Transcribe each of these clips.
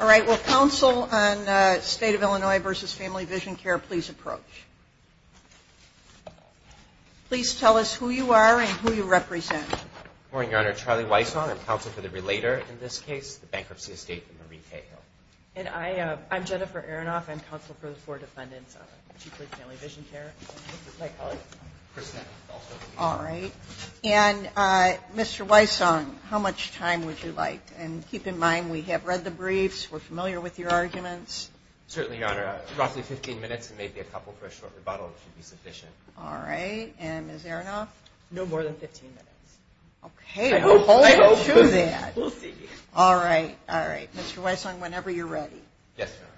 All right. Will counsel on State of Illinois v. Family Vision Care please approach? Please tell us who you are and who you represent. Good morning, Your Honor. Charlie Wysong, I'm counsel for the relater in this case, the Bankruptcy Estate of Marie Cahill. And I'm Jennifer Aronoff. I'm counsel for the four defendants of Chiefly Family Vision Care. All right. And Mr. Wysong, how much time would you like? And keep in mind we have read the briefs, we're familiar with your arguments. Certainly, Your Honor. Roughly 15 minutes and maybe a couple for a short rebuttal should be sufficient. All right. And Ms. Aronoff? No more than 15 minutes. Okay. I'll hold you to that. We'll see. All right. All right. Mr. Wysong, whenever you're ready. Yes, Your Honor.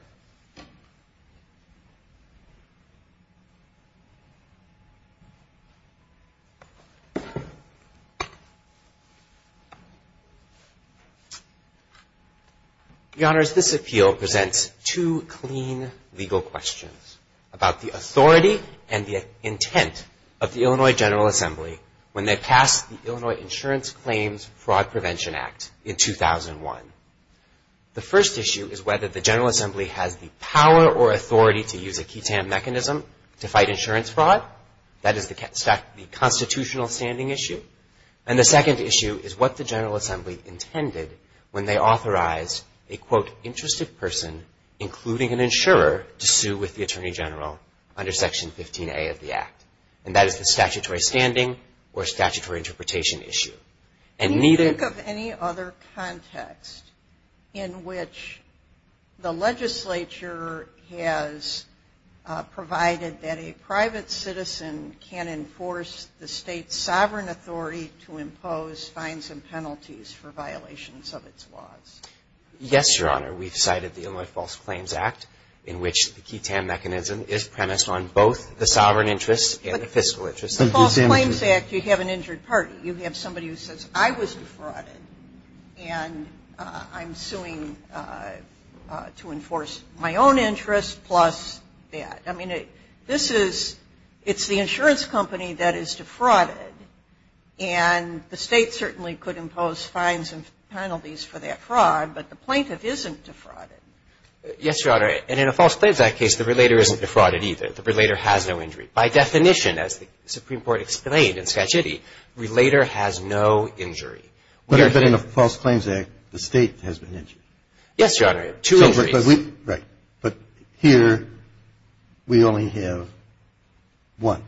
Your Honor, this appeal presents two clean legal questions about the authority and the intent of the Illinois General Assembly when they passed the Illinois Insurance Claims Fraud Prevention Act in 2001. The first issue is whether the General Assembly has the power or authority to use a QI-TAM mechanism to fight insurance fraud. That is the constitutional standing issue. And the second issue is what the General Assembly intended when they authorized a, quote, interested person, including an insurer, to sue with the Attorney General under Section 15A of the Act. And that is the statutory standing or statutory interpretation issue. Can you think of any other context in which the legislature has provided that a private citizen can enforce the state's sovereign authority to impose fines and penalties for violations of its laws? Yes, Your Honor. We've cited the Illinois False Claims Act in which the QI-TAM mechanism is premised on both the sovereign interest and the fiscal interest. In the False Claims Act, you'd have an injured party. You'd have somebody who says, I was defrauded, and I'm suing to enforce my own interest plus that. I mean, this is the insurance company that is defrauded. And the state certainly could impose fines and penalties for that fraud, but the plaintiff isn't defrauded. Yes, Your Honor. And in a False Claims Act case, the relator isn't defrauded either. The relator has no injury. By definition, as the Supreme Court explained in Skagitti, relator has no injury. But in a False Claims Act, the state has been injured. Yes, Your Honor. Two injuries. Right. But here, we only have one.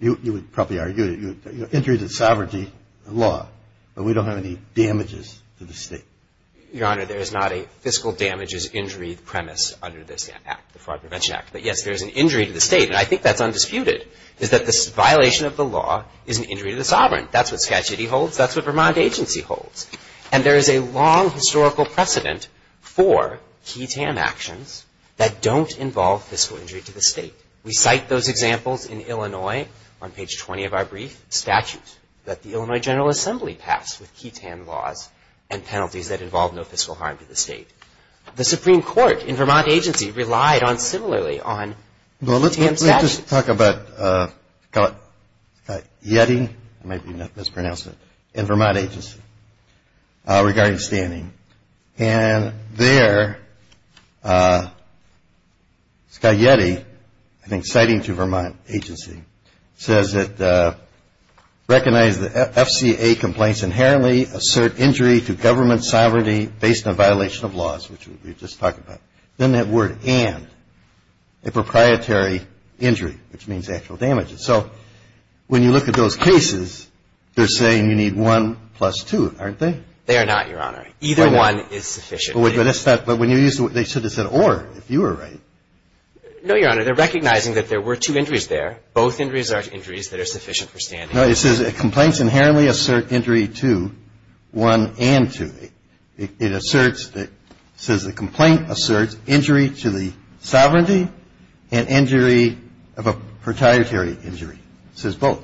You would probably argue that injuries of sovereignty are law, but we don't have any damages to the state. Your Honor, there is not a fiscal damages injury premise under this Act, the Fraud Prevention Act. But yes, there is an injury to the state, and I think that's undisputed, is that this violation of the law is an injury to the sovereign. That's what Skagitti holds. That's what Vermont agency holds. And there is a long historical precedent for QI-TAN actions that don't involve fiscal injury to the state. We cite those examples in Illinois on page 20 of our brief, statutes that the Illinois General Assembly passed with QI-TAN laws and penalties that involve no fiscal harm to the state. The Supreme Court in Vermont agency relied similarly on QI-TAN statutes. Well, let's just talk about Skagitti in Vermont agency regarding standing. And there, Skagitti, I think citing to Vermont agency, says it recognizes that FCA complaints inherently assert injury to government sovereignty based on violation of laws, which we just talked about. Then that word and, a proprietary injury, which means actual damages. So when you look at those cases, they're saying you need one plus two, aren't they? They are not, Your Honor. Either one is sufficient. But when you use the word, they should have said or, if you were right. No, Your Honor. They're recognizing that there were two injuries there. Both injuries are injuries that are sufficient for standing. No, it says that complaints inherently assert injury to, one and two. It asserts, it says the complaint asserts injury to the sovereignty and injury of a proprietary injury. It says both.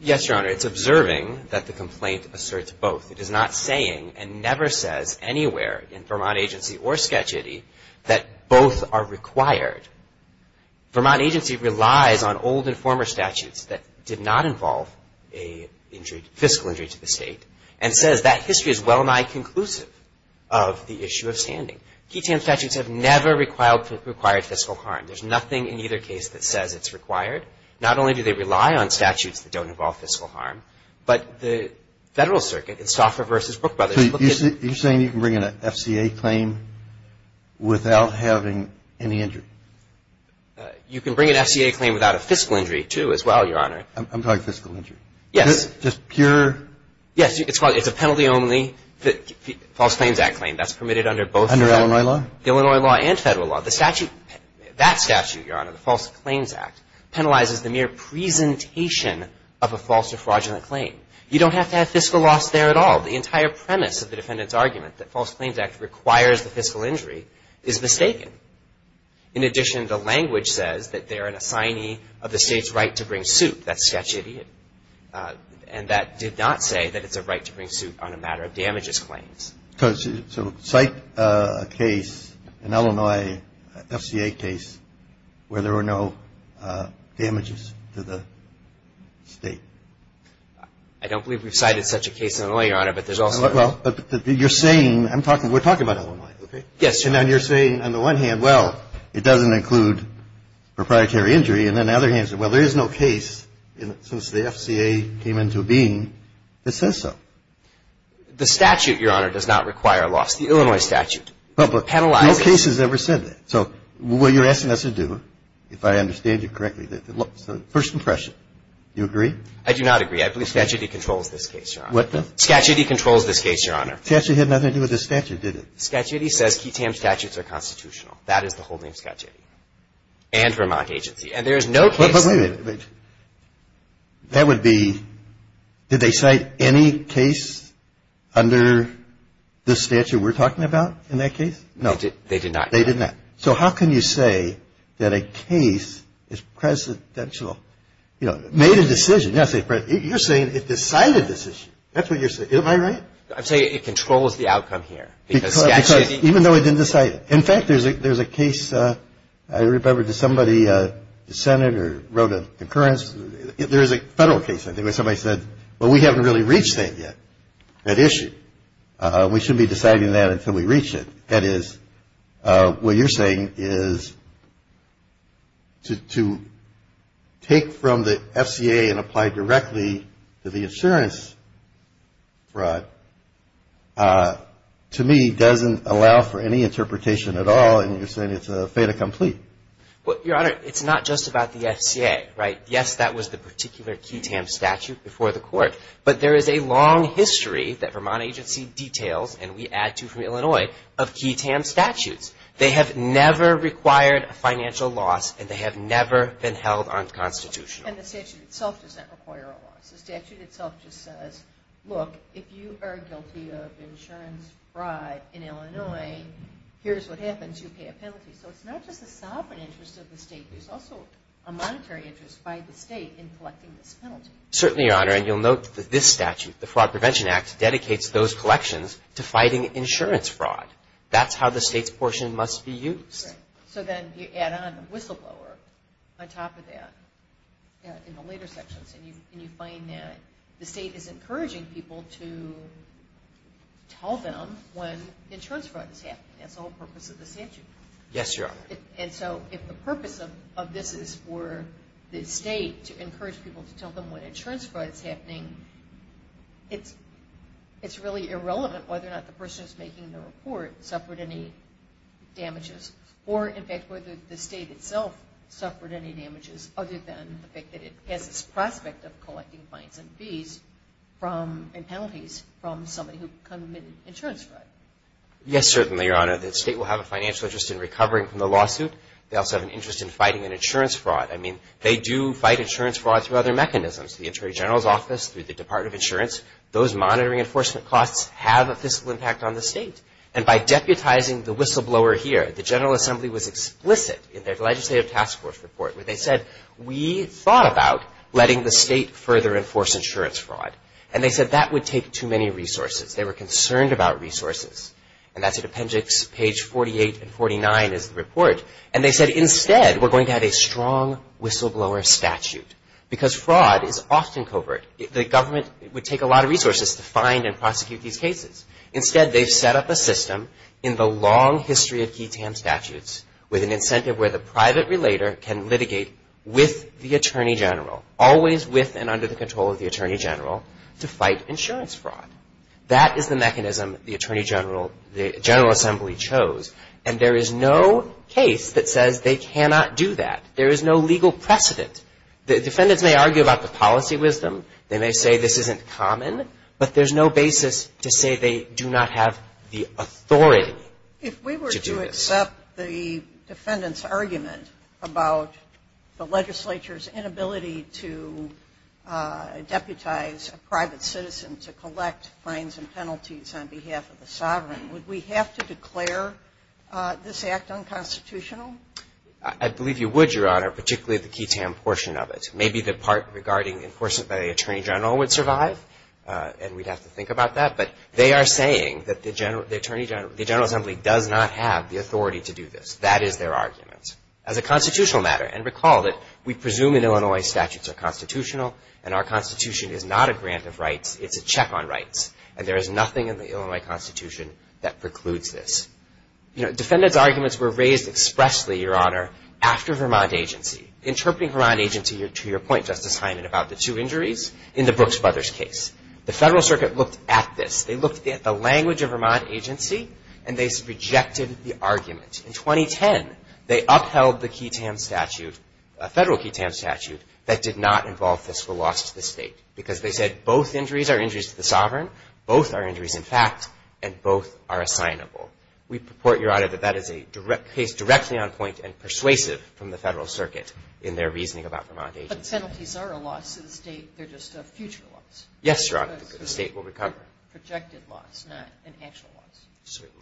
Yes, Your Honor. It's observing that the complaint asserts both. It is not saying and never says anywhere in Vermont agency or Skagitti that both are required. Vermont agency relies on old and former statutes that did not involve a injury, fiscal injury to the state, and says that history is well-nigh conclusive of the issue of standing. Key TAM statutes have never required fiscal harm. There's nothing in either case that says it's required. Not only do they rely on statutes that don't involve fiscal harm, but the Federal Circuit in Stauffer v. Brook Brothers. So you're saying you can bring in an FCA claim without having any injury? You can bring an FCA claim without a fiscal injury, too, as well, Your Honor. I'm talking fiscal injury. Yes. Just pure? Yes. It's a penalty-only False Claims Act claim. That's permitted under both. Under Illinois law? Illinois law and Federal law. That statute, Your Honor, the False Claims Act, penalizes the mere presentation of a false or fraudulent claim. You don't have to have fiscal loss there at all. The entire premise of the defendant's argument that False Claims Act requires the fiscal injury is mistaken. In addition, the language says that they're an assignee of the state's right to bring suit. That's Skagitti. And that did not say that it's a right to bring suit on a matter of damages claims. So cite a case, an Illinois FCA case, where there were no damages to the state. I don't believe we've cited such a case in Illinois, Your Honor, but there's also – Well, you're saying – we're talking about Illinois, okay? Yes, Your Honor. And you're saying, on the one hand, well, it doesn't include proprietary injury, and on the other hand, well, there is no case since the FCA came into being that says so. The statute, Your Honor, does not require loss. The Illinois statute penalizes – No case has ever said that. So what you're asking us to do, if I understand you correctly, is first impression. Do you agree? I do not agree. I believe Skagitti controls this case, Your Honor. What does? Skagitti controls this case, Your Honor. Skagitti had nothing to do with this statute, did it? Skagitti says QTAM statutes are constitutional. That is the holding of Skagitti and Vermont agency. And there is no case – Wait a minute. That would be – did they cite any case under the statute we're talking about in that case? No. They did not. They did not. So how can you say that a case is presidential? You know, made a decision. You're saying it decided this issue. That's what you're saying. Am I right? I'm saying it controls the outcome here. Because Skagitti – Even though it didn't decide it. In fact, there's a case – I remember somebody dissented or wrote a concurrence. There is a federal case, I think, where somebody said, well, we haven't really reached that yet, that issue. We shouldn't be deciding that until we reach it. What you're saying is to take from the FCA and apply directly to the insurance fraud, to me, doesn't allow for any interpretation at all. And you're saying it's a fait accompli. Well, Your Honor, it's not just about the FCA, right? Yes, that was the particular QTAM statute before the court. But there is a long history that Vermont agency details, and we add to from Illinois, of QTAM statutes. They have never required a financial loss, and they have never been held unconstitutional. And the statute itself doesn't require a loss. The statute itself just says, look, if you are guilty of insurance fraud in Illinois, here's what happens. You pay a penalty. So it's not just the sovereign interest of the state. Certainly, Your Honor, and you'll note that this statute, the Fraud Prevention Act, dedicates those collections to fighting insurance fraud. That's how the state's portion must be used. So then you add on a whistleblower on top of that in the later sections, and you find that the state is encouraging people to tell them when insurance fraud is happening. That's the whole purpose of the statute. Yes, Your Honor. And so if the purpose of this is for the state to encourage people to tell them when insurance fraud is happening, it's really irrelevant whether or not the person who's making the report suffered any damages or, in fact, whether the state itself suffered any damages other than the fact that it has this prospect of collecting fines and fees and penalties from somebody who committed insurance fraud. Yes, certainly, Your Honor. The state will have a financial interest in recovering from the lawsuit. They also have an interest in fighting an insurance fraud. I mean, they do fight insurance fraud through other mechanisms. The Attorney General's Office, through the Department of Insurance, those monitoring enforcement costs have a fiscal impact on the state. And by deputizing the whistleblower here, the General Assembly was explicit in their legislative task force report where they said, we thought about letting the state further enforce insurance fraud. And they said that would take too many resources. They were concerned about resources. And that's at appendix page 48 and 49 is the report. And they said, instead, we're going to have a strong whistleblower statute because fraud is often covert. The government would take a lot of resources to find and prosecute these cases. Instead, they've set up a system in the long history of key TAM statutes with an incentive where the private relator can litigate with the Attorney General, always with and under the control of the Attorney General, to fight insurance fraud. That is the mechanism the Attorney General, the General Assembly chose. And there is no case that says they cannot do that. There is no legal precedent. The defendants may argue about the policy wisdom. They may say this isn't common. But there's no basis to say they do not have the authority to do this. If we accept the defendant's argument about the legislature's inability to deputize a private citizen to collect fines and penalties on behalf of the sovereign, would we have to declare this act unconstitutional? I believe you would, Your Honor, particularly the key TAM portion of it. Maybe the part regarding enforcement by the Attorney General would survive, and we'd have to think about that. But they are saying that the Attorney General, the General Assembly does not have the authority to do this. That is their argument. As a constitutional matter, and recall that we presume in Illinois statutes are constitutional, and our Constitution is not a grant of rights. It's a check on rights. And there is nothing in the Illinois Constitution that precludes this. You know, defendants' arguments were raised expressly, Your Honor, after Vermont agency, interpreting Vermont agency to your point, Justice Hyman, about the two injuries in the Brooks Brothers case. The Federal Circuit looked at this. They looked at the language of Vermont agency, and they projected the argument. In 2010, they upheld the key TAM statute, a federal key TAM statute, that did not involve fiscal loss to the state. Because they said both injuries are injuries to the sovereign, both are injuries in fact, and both are assignable. We purport, Your Honor, that that is a case directly on point and persuasive from the Federal Circuit in their reasoning about Vermont agency. But penalties are a loss to the state. They're just a future loss. Yes, Your Honor. The state will recover. Projected loss, not an actual loss. Certainly.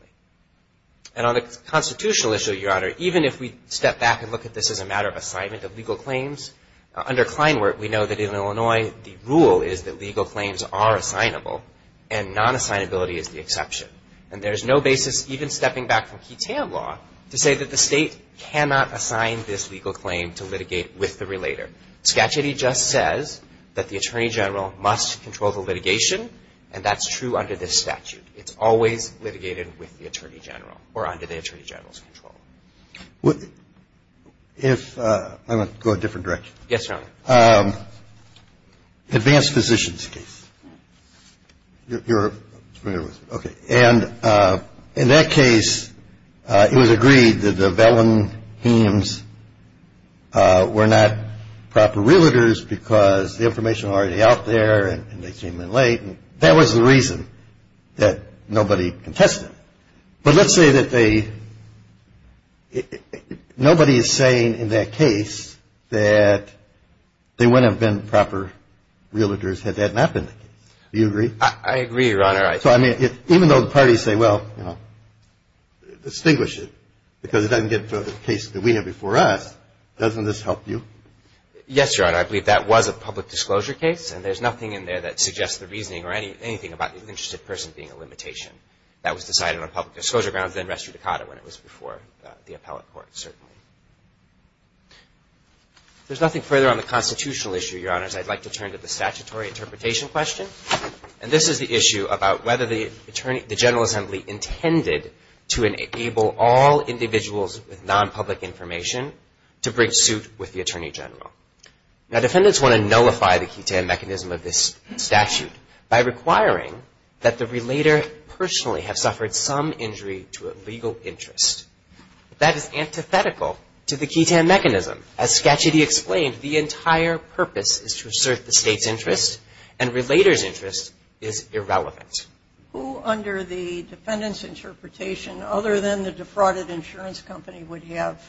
And on a constitutional issue, Your Honor, even if we step back and look at this as a matter of assignment of legal claims, under Kleinwert, we know that in Illinois, the rule is that legal claims are assignable, and non-assignability is the exception. And there's no basis even stepping back from key TAM law to say that the state cannot assign this legal claim to litigate with the relator. Scatchitty just says that the Attorney General must control the litigation, and that's true under this statute. It's always litigated with the Attorney General or under the Attorney General's control. If – I'm going to go a different direction. Yes, Your Honor. Advanced Physicians case. You're familiar with it. Okay. And in that case, it was agreed that the Vellon hemes were not proper relators because the information was already out there, and they came in late, and that was the reason that nobody contested it. But let's say that they – nobody is saying in that case that they wouldn't have been proper relators had that not been the case. I agree, Your Honor. So, I mean, even though the parties say, well, you know, distinguish it because it doesn't get to the case that we have before us, doesn't this help you? Yes, Your Honor. I believe that was a public disclosure case, and there's nothing in there that suggests the reasoning or anything about the interested person being a limitation. That was decided on public disclosure grounds in Restre-DiCato when it was before the appellate court, certainly. If there's nothing further on the constitutional issue, Your Honors, I'd like to turn to the statutory interpretation question. And this is the issue about whether the Attorney – the General Assembly intended to enable all individuals with nonpublic information to bring suit with the Attorney General. Now, defendants want to nullify the quid tan mechanism of this statute by requiring that the relator personally have suffered some injury to a legal interest. That is antithetical to the quid tan mechanism. As Scacciati explained, the entire purpose is to assert the State's interest, and relator's interest is irrelevant. Who under the defendant's interpretation, other than the defrauded insurance company, would have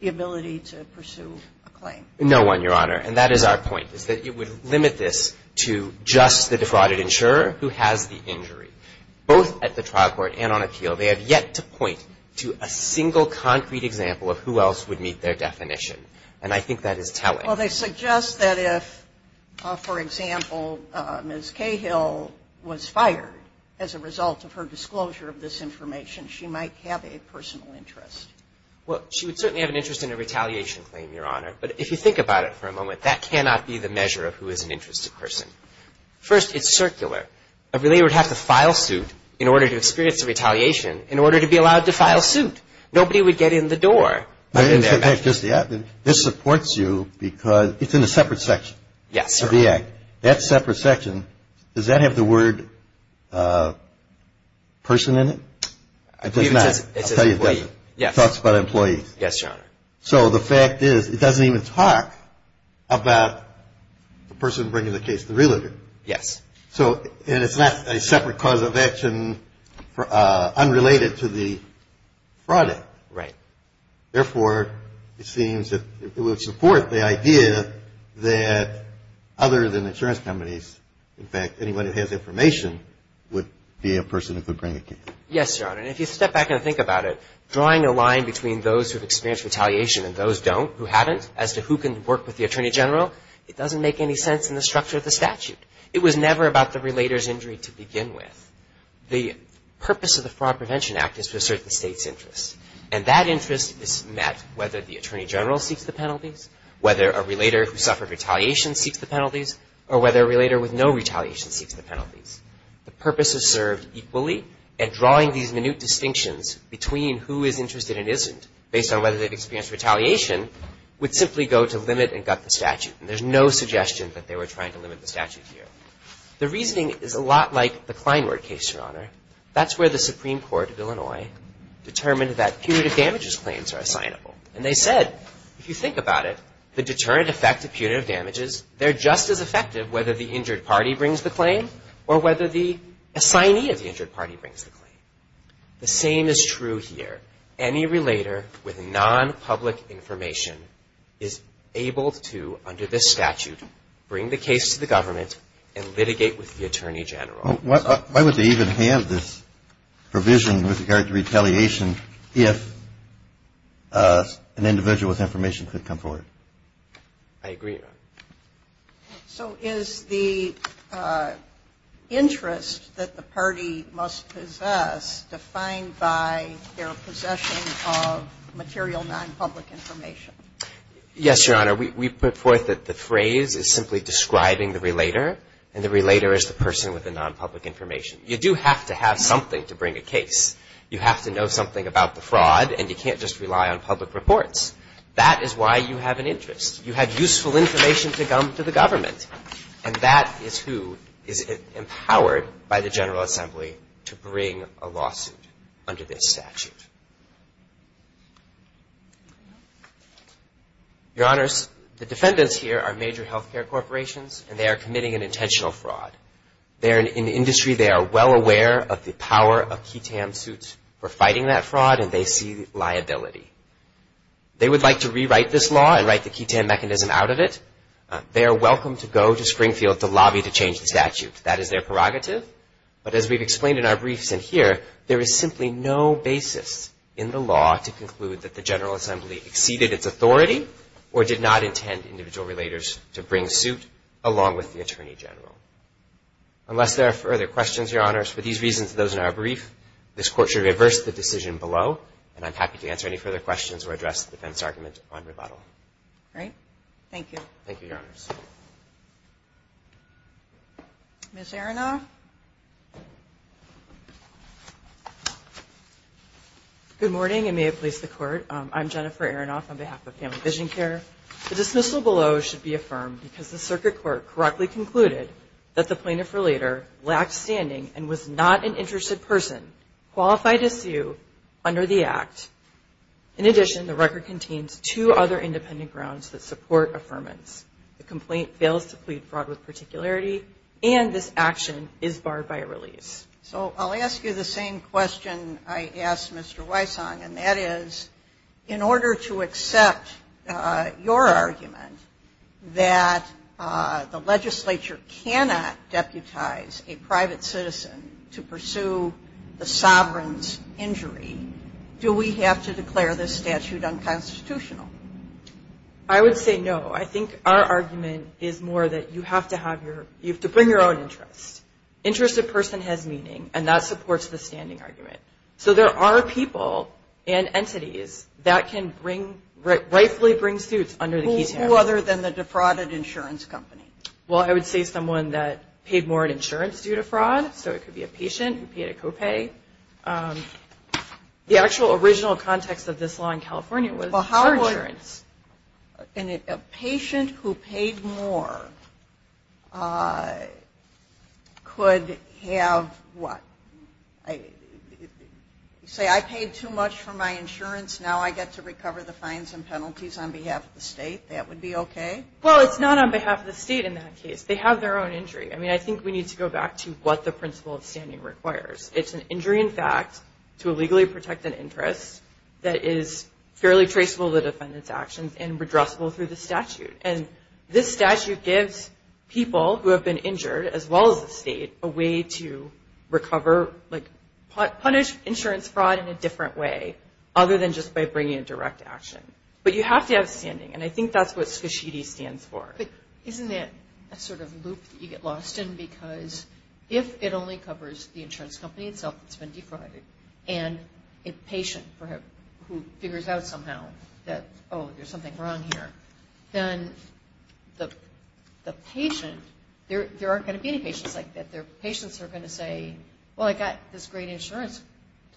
the ability to pursue a claim? No one, Your Honor. And that is our point, is that it would limit this to just the defrauded insurer who has the injury. Both at the trial court and on appeal, they have yet to point to a single concrete example of who else would meet their definition. And I think that is telling. Well, they suggest that if, for example, Ms. Cahill was fired as a result of her disclosure of this information, she might have a personal interest. Well, she would certainly have an interest in a retaliation claim, Your Honor. But if you think about it for a moment, that cannot be the measure of who is an interested person. First, it's circular. A relator would have to file suit in order to experience a retaliation, in order to be allowed to file suit. Nobody would get in the door. This supports you because it's in a separate section. Yes, Your Honor. That separate section, does that have the word person in it? I believe it does. It talks about employees. Yes, Your Honor. So the fact is, it doesn't even talk about the person bringing the case, the relator. Yes. So, and it's not a separate cause of action unrelated to the fraud act. Right. Therefore, it seems that it would support the idea that other than insurance companies, in fact, anyone who has information would be a person who could bring a case. Yes, Your Honor. And if you step back and think about it, drawing a line between those who have experienced retaliation and those who don't, who haven't, as to who can work with the Attorney General, it doesn't make any sense in the structure of the statute. It was never about the relator's injury to begin with. The purpose of the Fraud Prevention Act is to assert the state's interests. And that interest is met whether the Attorney General seeks the penalties, whether a relator who suffered retaliation seeks the penalties, or whether a relator with no retaliation seeks the penalties. The purpose is served equally, and drawing these minute distinctions between who is interested and isn't, based on whether they've experienced retaliation, would simply go to limit and gut the statute. And there's no suggestion that they were trying to limit the statute here. The reasoning is a lot like the Kleinwert case, Your Honor. That's where the Supreme Court of Illinois determined that punitive damages claims are assignable. And they said, if you think about it, the deterrent effect of punitive damages, they're just as effective whether the injured party brings the claim or whether the assignee of the injured party brings the claim. The same is true here. Any relator with non-public information is able to, under this statute, bring the case to the government and litigate with the Attorney General. Why would they even have this provision with regard to retaliation if an individual with information could come forward? I agree, Your Honor. So is the interest that the party must possess defined by their possession of material non-public information? Yes, Your Honor. We put forth that the phrase is simply describing the relator, and the relator is the person with the non-public information. You do have to have something to bring a case. You have to know something about the fraud, and you can't just rely on public reports. That is why you have an interest. You have useful information to come to the government, and that is who is empowered by the General Assembly to bring a lawsuit under this statute. Your Honors, the defendants here are major health care corporations, and they are committing an intentional fraud. They are in the industry. They are well aware of the power of QI-TAM suits for fighting that fraud, and they see liability. They would like to rewrite this law and write the QI-TAM mechanism out of it. They are welcome to go to Springfield to lobby to change the statute. That is their prerogative. But as we've explained in our briefs in here, there is simply no basis in the law to conclude that the General Assembly exceeded its authority or did not intend individual relators to bring suit along with the Attorney General. Unless there are further questions, Your Honors, for these reasons and those in our brief, this Court should reverse the decision below, and I'm happy to answer any further questions or address the defense argument on rebuttal. All right. Thank you. Thank you, Your Honors. Ms. Aronoff. Good morning, and may it please the Court. I'm Jennifer Aronoff on behalf of Family Vision Care. The dismissal below should be affirmed because the circuit court correctly concluded that the plaintiff or leader lacked standing and was not an interested person qualified to sue under the Act. In addition, the record contains two other independent grounds that support affirmance. The complaint fails to plead fraud with particularity, and this action is barred by release. So I'll ask you the same question I asked Mr. Weissong, and that is in order to accept your argument that the legislature cannot deputize a private citizen to pursue the sovereign's injury, do we have to declare this statute unconstitutional? I would say no. I think our argument is more that you have to bring your own interests. Interested person has meaning, and that supports the standing argument. So there are people and entities that can rightfully bring suits under the Keating Act. Who other than the defrauded insurance company? Well, I would say someone that paid more in insurance due to fraud, so it could be a patient who paid a copay. The actual original context of this law in California was for insurance. And a patient who paid more could have what? Say I paid too much for my insurance, now I get to recover the fines and penalties on behalf of the state. That would be okay? Well, it's not on behalf of the state in that case. They have their own injury. I mean, I think we need to go back to what the principle of standing requires. It's an injury in fact to illegally protect an interest that is fairly traceable to defendant's actions and redressable through the statute. And this statute gives people who have been injured, as well as the state, a way to recover, like punish insurance fraud in a different way, other than just by bringing a direct action. But you have to have standing, and I think that's what SCSHD stands for. But isn't that a sort of loop that you get lost in? Because if it only covers the insurance company itself that's been defrauded, and a patient who figures out somehow that, oh, there's something wrong here, then the patient, there aren't going to be any patients like that. Patients are going to say, well, I got this great insurance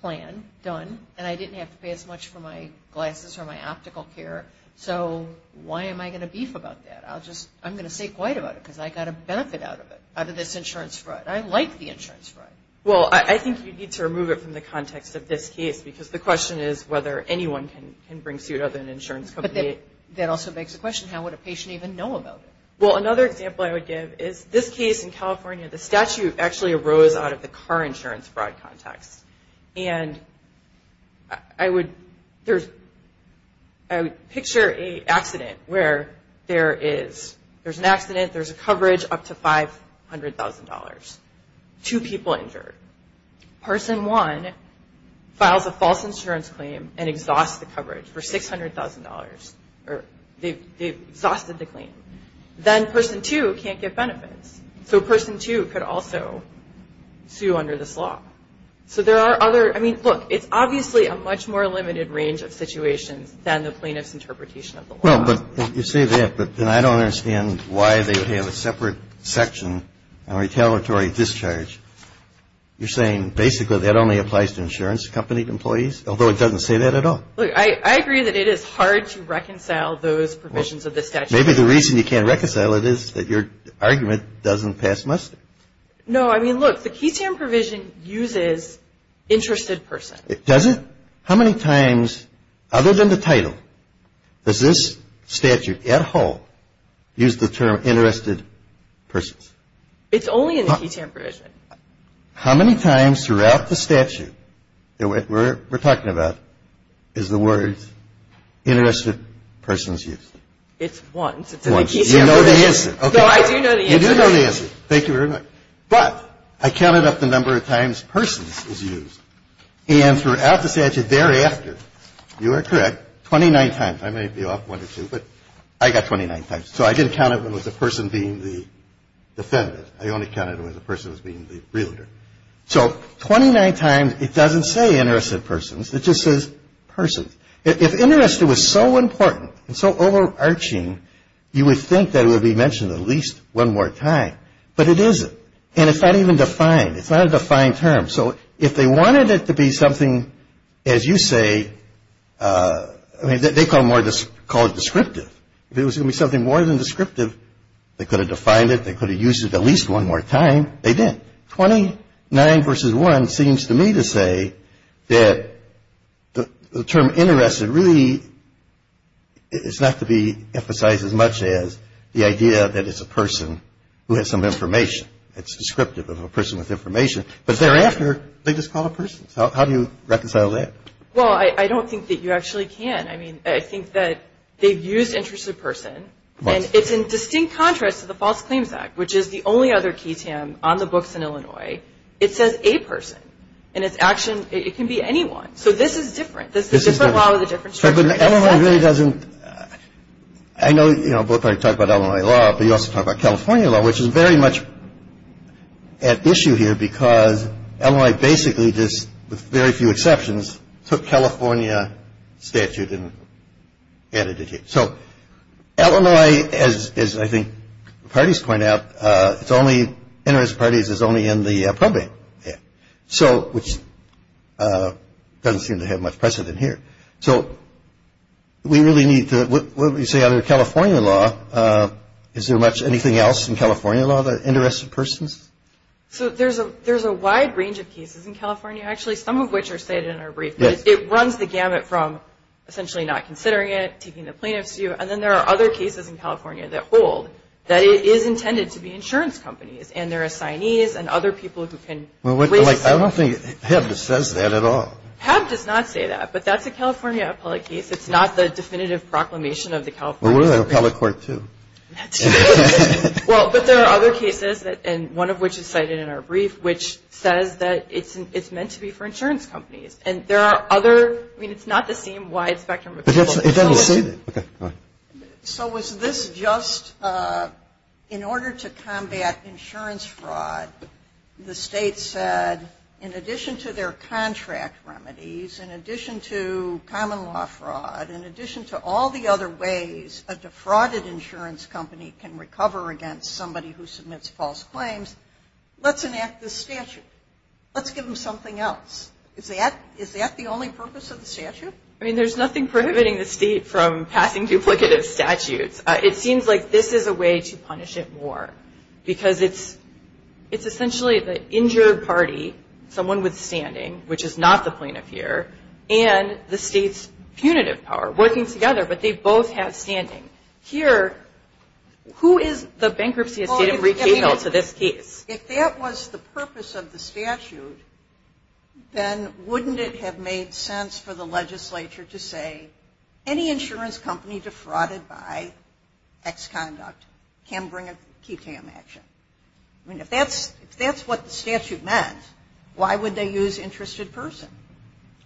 plan done, and I didn't have to pay as much for my glasses or my optical care, so why am I going to beef about that? I'm going to stay quiet about it because I got a benefit out of it, out of this insurance fraud. I like the insurance fraud. Well, I think you need to remove it from the context of this case, because the question is whether anyone can bring suit other than an insurance company. But that also begs the question, how would a patient even know about it? Well, another example I would give is this case in California. The statute actually arose out of the car insurance fraud context. And I would picture an accident where there's an accident, there's a coverage up to $500,000, two people injured. Person one files a false insurance claim and exhausts the coverage for $600,000. They've exhausted the claim. Then person two can't get benefits, so person two could also sue under this law. So there are other, I mean, look, it's obviously a much more limited range of situations than the plaintiff's interpretation of the law. Well, but you say that, but then I don't understand why they would have a separate section on retaliatory discharge. You're saying basically that only applies to insurance company employees, although it doesn't say that at all. Look, I agree that it is hard to reconcile those provisions of the statute. Maybe the reason you can't reconcile it is that your argument doesn't pass muster. No, I mean, look, the QTAM provision uses interested persons. Does it? How many times, other than the title, does this statute at whole use the term interested persons? It's only in the QTAM provision. How many times throughout the statute that we're talking about is the word interested persons used? It's once. It's in the QTAM provision. Once. You know the answer. No, I do know the answer. You do know the answer. Thank you very much. But I counted up the number of times persons is used. And throughout the statute thereafter, you are correct, 29 times. I may be off one or two, but I got 29 times. So I didn't count it when it was a person being the defendant. I only counted it when the person was being the realtor. So 29 times, it doesn't say interested persons. It just says persons. If interested was so important and so overarching, you would think that it would be mentioned at least one more time. But it isn't. And it's not even defined. It's not a defined term. So if they wanted it to be something, as you say, I mean, they call it descriptive. If it was going to be something more than descriptive, they could have defined it. They could have used it at least one more time. They didn't. 29 versus 1 seems to me to say that the term interested really is not to be emphasized as much as the idea that it's a person who has some information. It's descriptive of a person with information. But thereafter, they just call it persons. How do you reconcile that? Well, I don't think that you actually can. I mean, I think that they've used interested person. I know, you know, both of you talk about Illinois law, but you also talk about California law, which is very much at issue here because Illinois basically just, with very few exceptions, took California statute and added it here. So Illinois, as I think the parties point out, it's only, interested parties is only in the probate. So, which doesn't seem to have much precedent here. So we really need to, what would you say other than California law, is there much anything else in California law that interested persons? So there's a wide range of cases in California, actually, some of which are stated in our brief. It runs the gamut from essentially not considering it, taking the plaintiff's view, and then there are other cases in California that hold that it is intended to be insurance companies and their assignees and other people who can raise the stakes. I don't think HAB says that at all. HAB does not say that, but that's a California appellate case. It's not the definitive proclamation of the California Supreme Court. Well, we're the appellate court, too. That's true. Well, but there are other cases, and one of which is cited in our brief, which says that it's meant to be for insurance companies. And there are other, I mean, it's not the same wide spectrum of people. It doesn't say that. Okay, go ahead. So was this just in order to combat insurance fraud, the state said, in addition to their contract remedies, in addition to common law fraud, in addition to all the other ways a defrauded insurance company can recover against somebody who submits false claims, let's enact this statute. Let's give them something else. Is that the only purpose of the statute? I mean, there's nothing prohibiting the State from passing duplicative statutes. It seems like this is a way to punish it more, because it's essentially the injured party, someone with standing, which is not the plaintiff here, and the State's punitive power, working together, but they both have standing. Here, who is the bankruptcy estate of retail to this case? If that was the purpose of the statute, then wouldn't it have made sense for the legislature to say, any insurance company defrauded by X conduct can bring a QTAM action? I mean, if that's what the statute meant, why would they use interested person?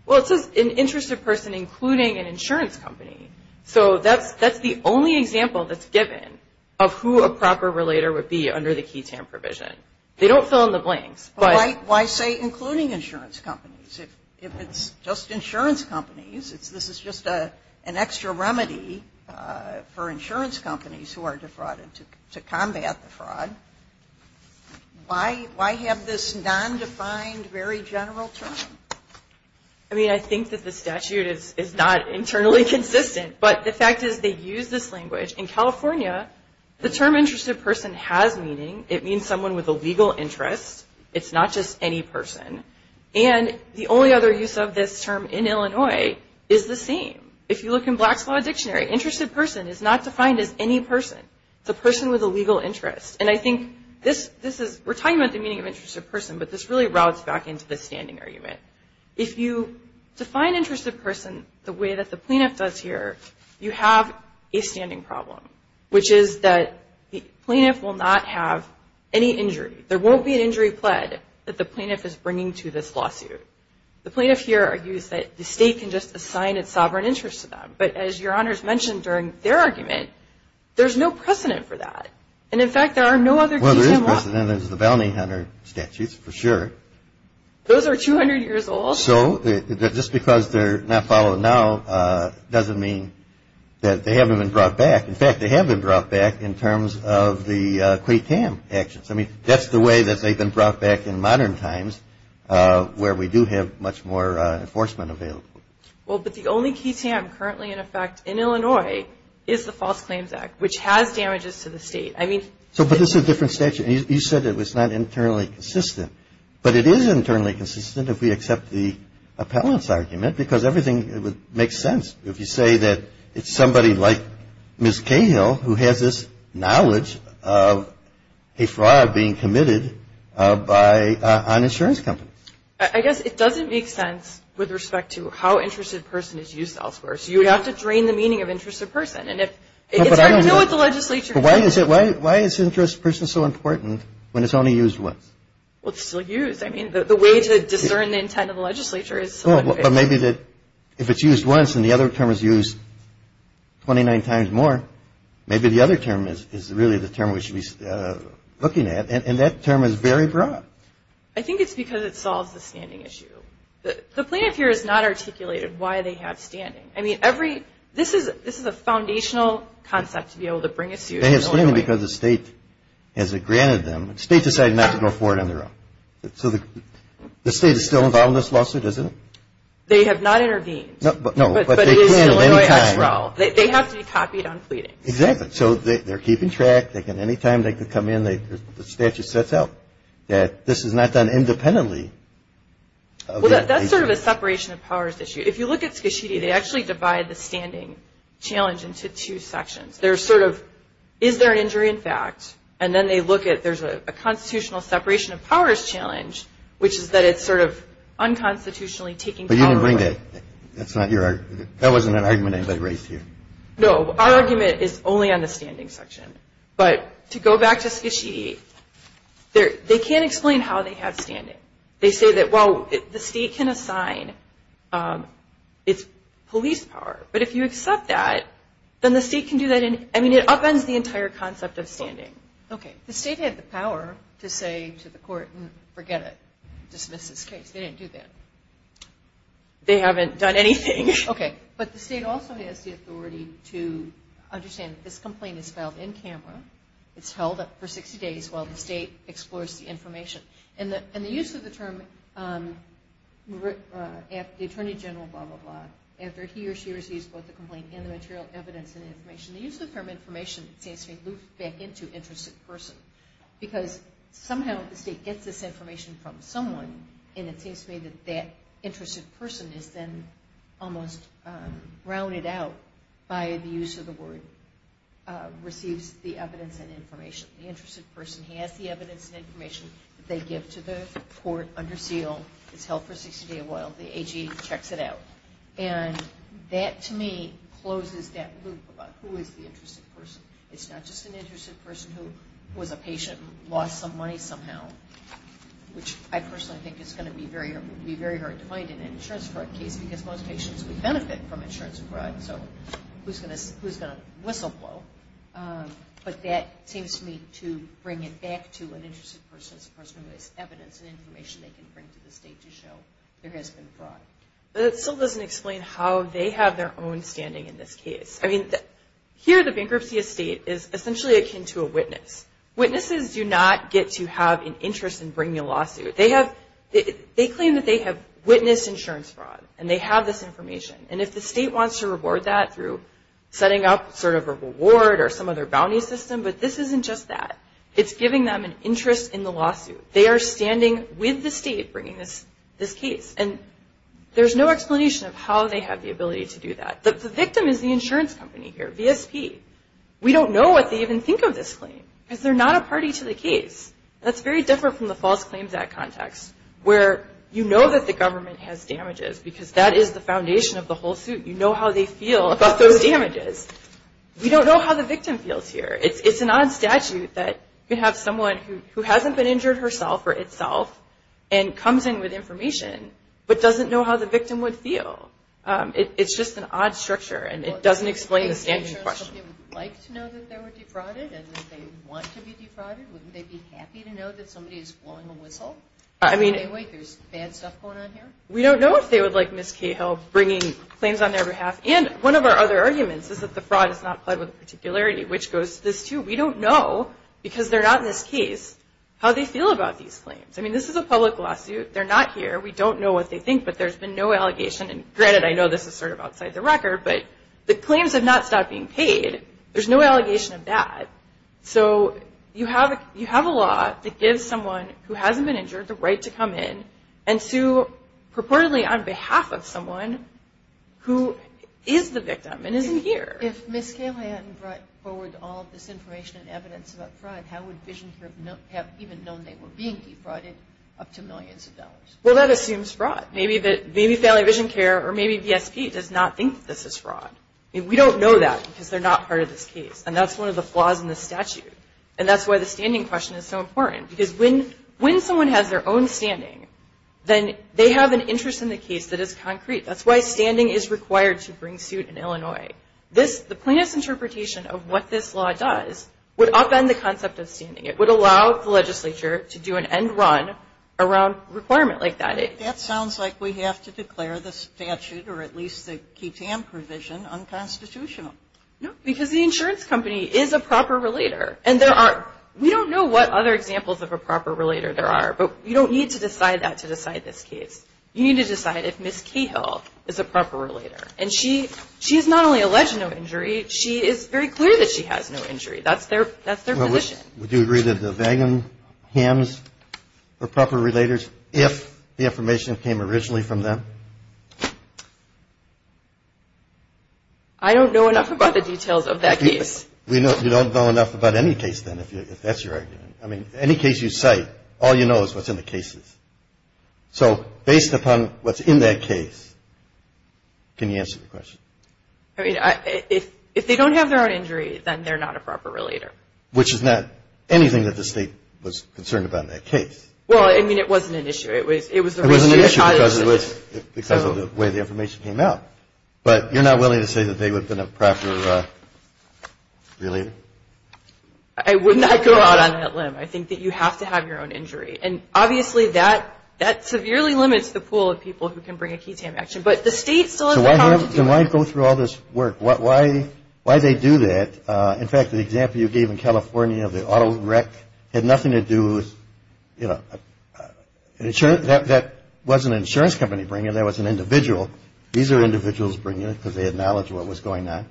Well, it says an interested person, including an insurance company. So that's the only example that's given of who a proper relator would be under the QTAM provision. They don't fill in the blanks, but why say including insurance companies? If it's just insurance companies, this is just an extra remedy for insurance companies who are defrauded to combat the fraud. Why have this nondefined, very general term? I mean, I think that the statute is not internally consistent, but the fact is they use this language. In California, the term interested person has meaning. It means someone with a legal interest. It's not just any person. And the only other use of this term in Illinois is the same. If you look in Black's Law Dictionary, interested person is not defined as any person. It's a person with a legal interest. And I think this is we're talking about the meaning of interested person, but this really routes back into the standing argument. If you define interested person the way that the plenip does here, you have a standing problem, which is that the plaintiff will not have any injury. There won't be an injury pled that the plaintiff is bringing to this lawsuit. The plaintiff here argues that the state can just assign its sovereign interest to them. But as Your Honors mentioned during their argument, there's no precedent for that. And, in fact, there are no other QTAM laws. Well, there is precedent. There's the bounty hunter statutes, for sure. Those are 200 years old. So just because they're not followed now doesn't mean that they haven't been brought back. In fact, they have been brought back in terms of the QTAM actions. I mean, that's the way that they've been brought back in modern times where we do have much more enforcement available. Well, but the only QTAM currently in effect in Illinois is the False Claims Act, which has damages to the state. So, but this is a different statute. You said it was not internally consistent. But it is internally consistent if we accept the appellant's argument because everything makes sense if you say that it's somebody like Ms. Cahill who has this knowledge of a fraud being committed by an insurance company. I guess it doesn't make sense with respect to how interested a person is used elsewhere. So you would have to drain the meaning of interested person. And if it's our deal with the legislature. Why is interested person so important when it's only used once? Well, it's still used. I mean, the way to discern the intent of the legislature is still in place. Well, but maybe if it's used once and the other term is used 29 times more, maybe the other term is really the term we should be looking at. And that term is very broad. I think it's because it solves the standing issue. The plaintiff here has not articulated why they have standing. I mean, this is a foundational concept to be able to bring a suit to Illinois. They have standing because the state has granted them. The state decided not to go forward on their own. So the state is still involved in this lawsuit, isn't it? They have not intervened. No, but they can at any time. They have to be copied on pleadings. Exactly. So they're keeping track. Any time they can come in, the statute sets out that this is not done independently. Well, that's sort of a separation of powers issue. If you look at Skashidi, they actually divide the standing challenge into two sections. There's sort of is there an injury in fact? And then they look at there's a constitutional separation of powers challenge, which is that it's sort of unconstitutionally taking power away. But you didn't bring that. That's not your argument. That wasn't an argument anybody raised here. No, our argument is only on the standing section. But to go back to Skashidi, they can't explain how they have standing. They say that while the state can assign its police power, but if you accept that, then the state can do that. I mean, it upends the entire concept of standing. Okay. The state had the power to say to the court, forget it. Dismiss this case. They didn't do that. They haven't done anything. Okay. But the state also has the authority to understand that this complaint is filed in camera. It's held up for 60 days while the state explores the information. And the use of the term, the Attorney General, blah, blah, blah, after he or she receives both the complaint and the material evidence and information, the use of the term information seems to loop back into interested person. Because somehow the state gets this information from someone, and it seems to me that that interested person is then almost rounded out by the use of the word, receives the evidence and information. The interested person has the evidence and information that they give to the court under seal. It's held for 60 days while the AG checks it out. And that, to me, closes that loop about who is the interested person. It's not just an interested person who was a patient and lost some money somehow, which I personally think is going to be very hard to find in an insurance fraud case because most patients would benefit from insurance fraud. So who's going to whistleblow? But that seems to me to bring it back to an interested person as a person who has evidence and information they can bring to the state to show there has been fraud. But it still doesn't explain how they have their own standing in this case. I mean, here the bankruptcy of state is essentially akin to a witness. Witnesses do not get to have an interest in bringing a lawsuit. They claim that they have witnessed insurance fraud, and they have this information. And if the state wants to reward that through setting up sort of a reward or some other bounty system, but this isn't just that. It's giving them an interest in the lawsuit. They are standing with the state bringing this case. And there's no explanation of how they have the ability to do that. The victim is the insurance company here, VSP. We don't know what they even think of this claim because they're not a party to the case. That's very different from the False Claims Act context where you know that the government has damages because that is the foundation of the whole suit. You know how they feel about those damages. We don't know how the victim feels here. It's a non-statute that you have someone who hasn't been injured herself or itself and comes in with information but doesn't know how the victim would feel. It's just an odd structure, and it doesn't explain the standing question. If the insurance company would like to know that they were defrauded and that they want to be defrauded, wouldn't they be happy to know that somebody is blowing a whistle? Wouldn't they say, wait, there's bad stuff going on here? We don't know if they would like Ms. Cahill bringing claims on their behalf. And one of our other arguments is that the fraud is not played with particularity, which goes to this, too. We don't know, because they're not in this case, how they feel about these claims. I mean, this is a public lawsuit. They're not here. We don't know what they think, but there's been no allegation. And granted, I know this is sort of outside the record, but the claims have not stopped being paid. There's no allegation of that. So you have a law that gives someone who hasn't been injured the right to come in and sue purportedly on behalf of someone who is the victim and isn't here. If Ms. Cahill hadn't brought forward all of this information and evidence about fraud, how would VisionCare have even known they were being defrauded up to millions of dollars? Well, that assumes fraud. Maybe Family VisionCare or maybe VSP does not think that this is fraud. I mean, we don't know that, because they're not part of this case. And that's one of the flaws in the statute. And that's why the standing question is so important. Because when someone has their own standing, then they have an interest in the case that is concrete. That's why standing is required to bring suit in Illinois. The plaintiff's interpretation of what this law does would upend the concept of standing. It would allow the legislature to do an end run around a requirement like that. That sounds like we have to declare the statute, or at least the KTAM provision, unconstitutional. No, because the insurance company is a proper relator. And there are – we don't know what other examples of a proper relator there are. But you don't need to decide that to decide this case. You need to decide if Ms. Cahill is a proper relator. And she is not only alleged no injury, she is very clear that she has no injury. That's their position. Well, would you agree that the Vagonhams are proper relators if the information came originally from them? I don't know enough about the details of that case. You don't know enough about any case, then, if that's your argument. I mean, any case you cite, all you know is what's in the cases. So based upon what's in that case, can you answer the question? I mean, if they don't have their own injury, then they're not a proper relator. Which is not anything that the State was concerned about in that case. Well, I mean, it wasn't an issue. It was the way the information came out. But you're not willing to say that they would have been a proper relator? I would not go out on that limb. I think that you have to have your own injury. And, obviously, that severely limits the pool of people who can bring a keysam action. But the State still has the power to do it. So why go through all this work? Why they do that? In fact, the example you gave in California of the auto wreck had nothing to do with, you know, that wasn't an insurance company bringing it, that was an individual. These are individuals bringing it because they had knowledge of what was going on.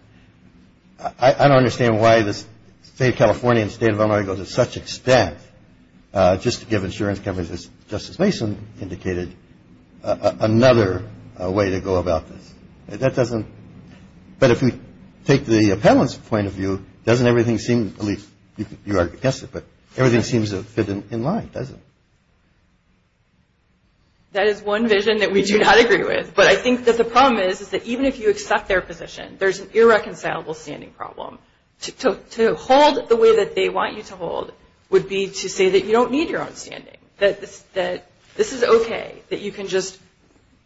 I don't understand why the State of California and the State of Illinois go to such extent just to give insurance companies, as Justice Mason indicated, another way to go about this. That doesn't – but if you take the appellant's point of view, doesn't everything seem – at least you are against it, but everything seems to fit in line, doesn't it? That is one vision that we do not agree with. But I think that the problem is that even if you accept their position, there's an irreconcilable standing problem. To hold the way that they want you to hold would be to say that you don't need your own standing, that this is okay, that you can just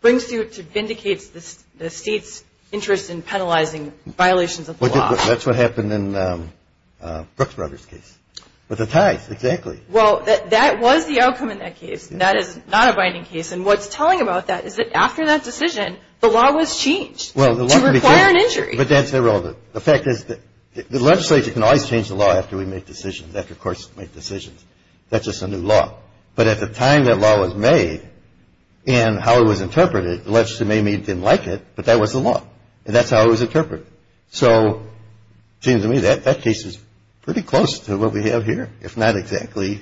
bring suit to vindicate the State's interest in penalizing violations of the law. That's what happened in Brooks Brothers' case with the ties, exactly. Well, that was the outcome in that case. That is not a binding case. And what's telling about that is that after that decision, the law was changed to require an injury. But that's irrelevant. The fact is that the legislature can always change the law after we make decisions, after courts make decisions. That's just a new law. But at the time that law was made and how it was interpreted, the legislature maybe didn't like it, but that was the law. And that's how it was interpreted. So it seems to me that that case is pretty close to what we have here, if not exactly,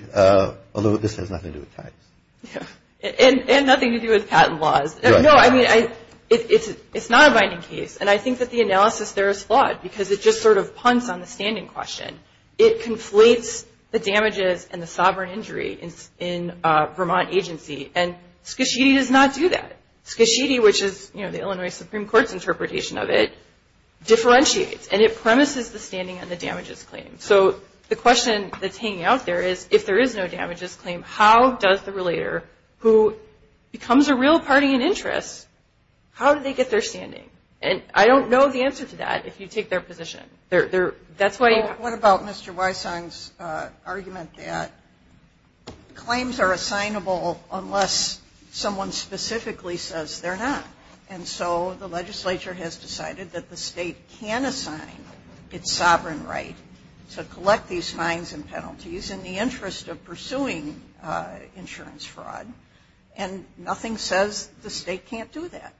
although this has nothing to do with ties. And nothing to do with patent laws. No, I mean, it's not a binding case. And I think that the analysis there is flawed because it just sort of punts on the standing question. It conflates the damages and the sovereign injury in Vermont agency. And Skashidi does not do that. Skashidi, which is, you know, the Illinois Supreme Court's interpretation of it, differentiates and it premises the standing on the damages claim. So the question that's hanging out there is, if there is no damages claim, how does the relator, who becomes a real party in interest, how do they get their standing? And I don't know the answer to that if you take their position. That's why you have to. What about Mr. Wysong's argument that claims are assignable unless someone specifically says they're not? And so the legislature has decided that the state can assign its sovereign right to collect these fines and penalties in the interest of pursuing insurance fraud. And nothing says the state can't do that.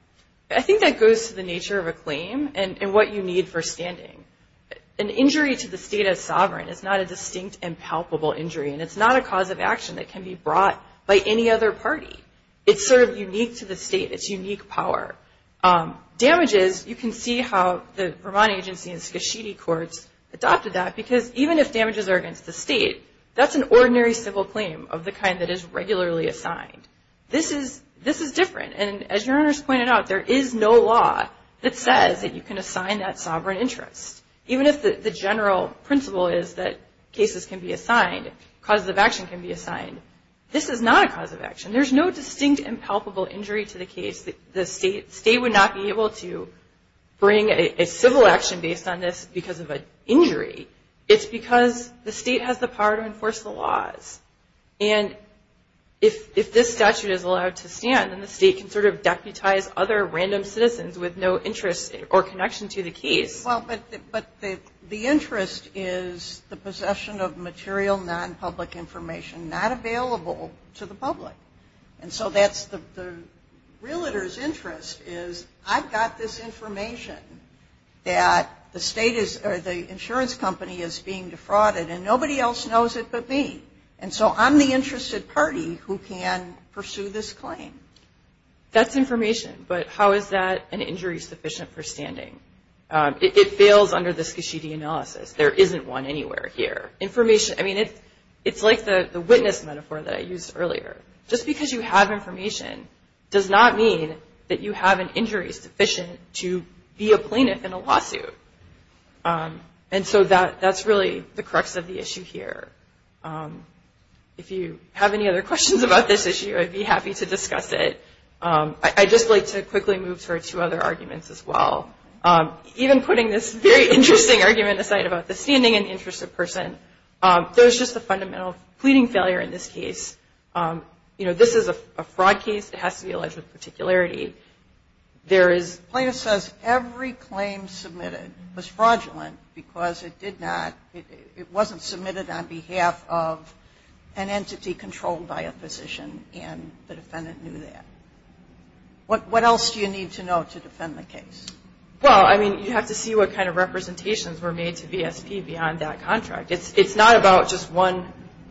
I think that goes to the nature of a claim and what you need for standing. An injury to the state as sovereign is not a distinct and palpable injury, and it's not a cause of action that can be brought by any other party. It's sort of unique to the state. It's unique power. Damages, you can see how the Vermont agency and Skishidi courts adopted that, because even if damages are against the state, that's an ordinary civil claim of the kind that is regularly assigned. This is different, and as your honors pointed out, there is no law that says that you can assign that sovereign interest. Even if the general principle is that cases can be assigned, causes of action can be assigned, this is not a cause of action. There's no distinct and palpable injury to the case. The state would not be able to bring a civil action based on this because of an injury. It's because the state has the power to enforce the laws. And if this statute is allowed to stand, then the state can sort of deputize other random citizens with no interest or connection to the case. Well, but the interest is the possession of material non-public information not available to the public. And so that's the realtor's interest is, I've got this information that the insurance company is being defrauded, and nobody else knows it but me. And so I'm the interested party who can pursue this claim. That's information, but how is that an injury sufficient for standing? It fails under the Skishidi analysis. There isn't one anywhere here. Information, I mean, it's like the witness metaphor that I used earlier. Just because you have information does not mean that you have an injury sufficient to be a plaintiff in a lawsuit. And so that's really the crux of the issue here. If you have any other questions about this issue, I'd be happy to discuss it. I'd just like to quickly move to our two other arguments as well. Even putting this very interesting argument aside about the standing and interest of person, there's just a fundamental pleading failure in this case. You know, this is a fraud case. It has to be alleged with particularity. There is – Plaintiff says every claim submitted was fraudulent because it did not – What else do you need to know to defend the case? Well, I mean, you have to see what kind of representations were made to VSP beyond that contract. It's not about just one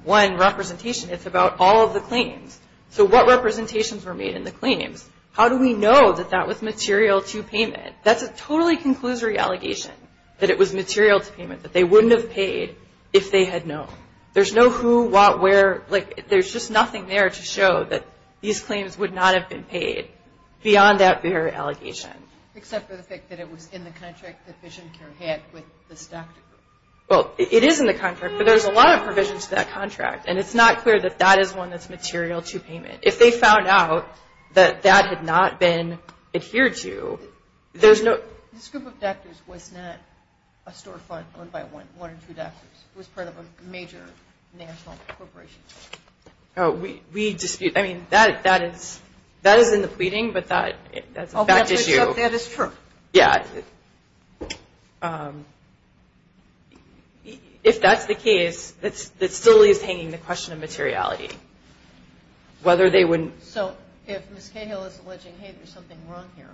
representation. It's about all of the claims. So what representations were made in the claims? How do we know that that was material to payment? That's a totally conclusory allegation, that it was material to payment, that they wouldn't have paid if they had known. There's no who, what, where. There's just nothing there to show that these claims would not have been paid beyond that very allegation. Except for the fact that it was in the contract that VisionCare had with this doctor. Well, it is in the contract, but there's a lot of provisions to that contract, and it's not clear that that is one that's material to payment. If they found out that that had not been adhered to, there's no – This group of doctors was not a storefront owned by one or two doctors. It was part of a major national corporation. We dispute – I mean, that is in the pleading, but that's a fact issue. That is true. Yeah. If that's the case, that still is hanging the question of materiality. Whether they wouldn't – So if Ms. Cahill is alleging, hey, there's something wrong here,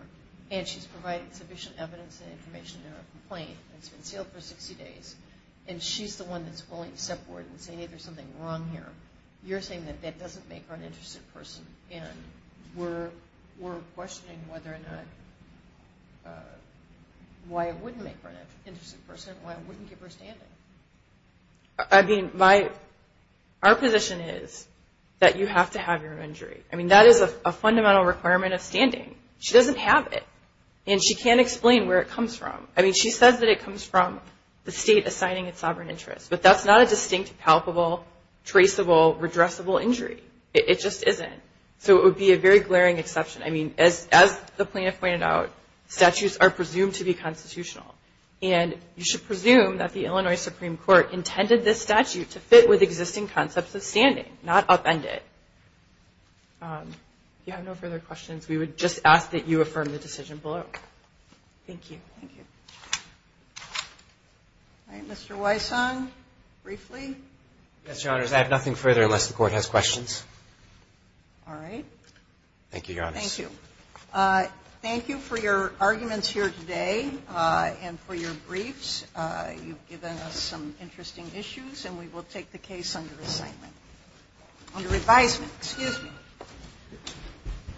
and she's provided sufficient evidence and information in her complaint, and it's been sealed for 60 days, and she's the one that's willing to step forward and say, hey, there's something wrong here, you're saying that that doesn't make her an interested person, and we're questioning whether or not – why it wouldn't make her an interested person, why it wouldn't give her standing. I mean, my – our position is that you have to have your injury. I mean, that is a fundamental requirement of standing. She doesn't have it, and she can't explain where it comes from. I mean, she says that it comes from the state assigning its sovereign interest, but that's not a distinct, palpable, traceable, redressable injury. It just isn't. So it would be a very glaring exception. I mean, as the plaintiff pointed out, statutes are presumed to be constitutional, and you should presume that the Illinois Supreme Court intended this statute to fit with existing concepts of standing, not upend it. If you have no further questions, we would just ask that you affirm the decision below. Thank you. Thank you. All right. Mr. Wysong, briefly. Yes, Your Honors. I have nothing further unless the Court has questions. All right. Thank you, Your Honors. Thank you. Thank you for your arguments here today and for your briefs. You've given us some interesting issues, and we will take the case under assignment – under advisement. Excuse me. Thank you.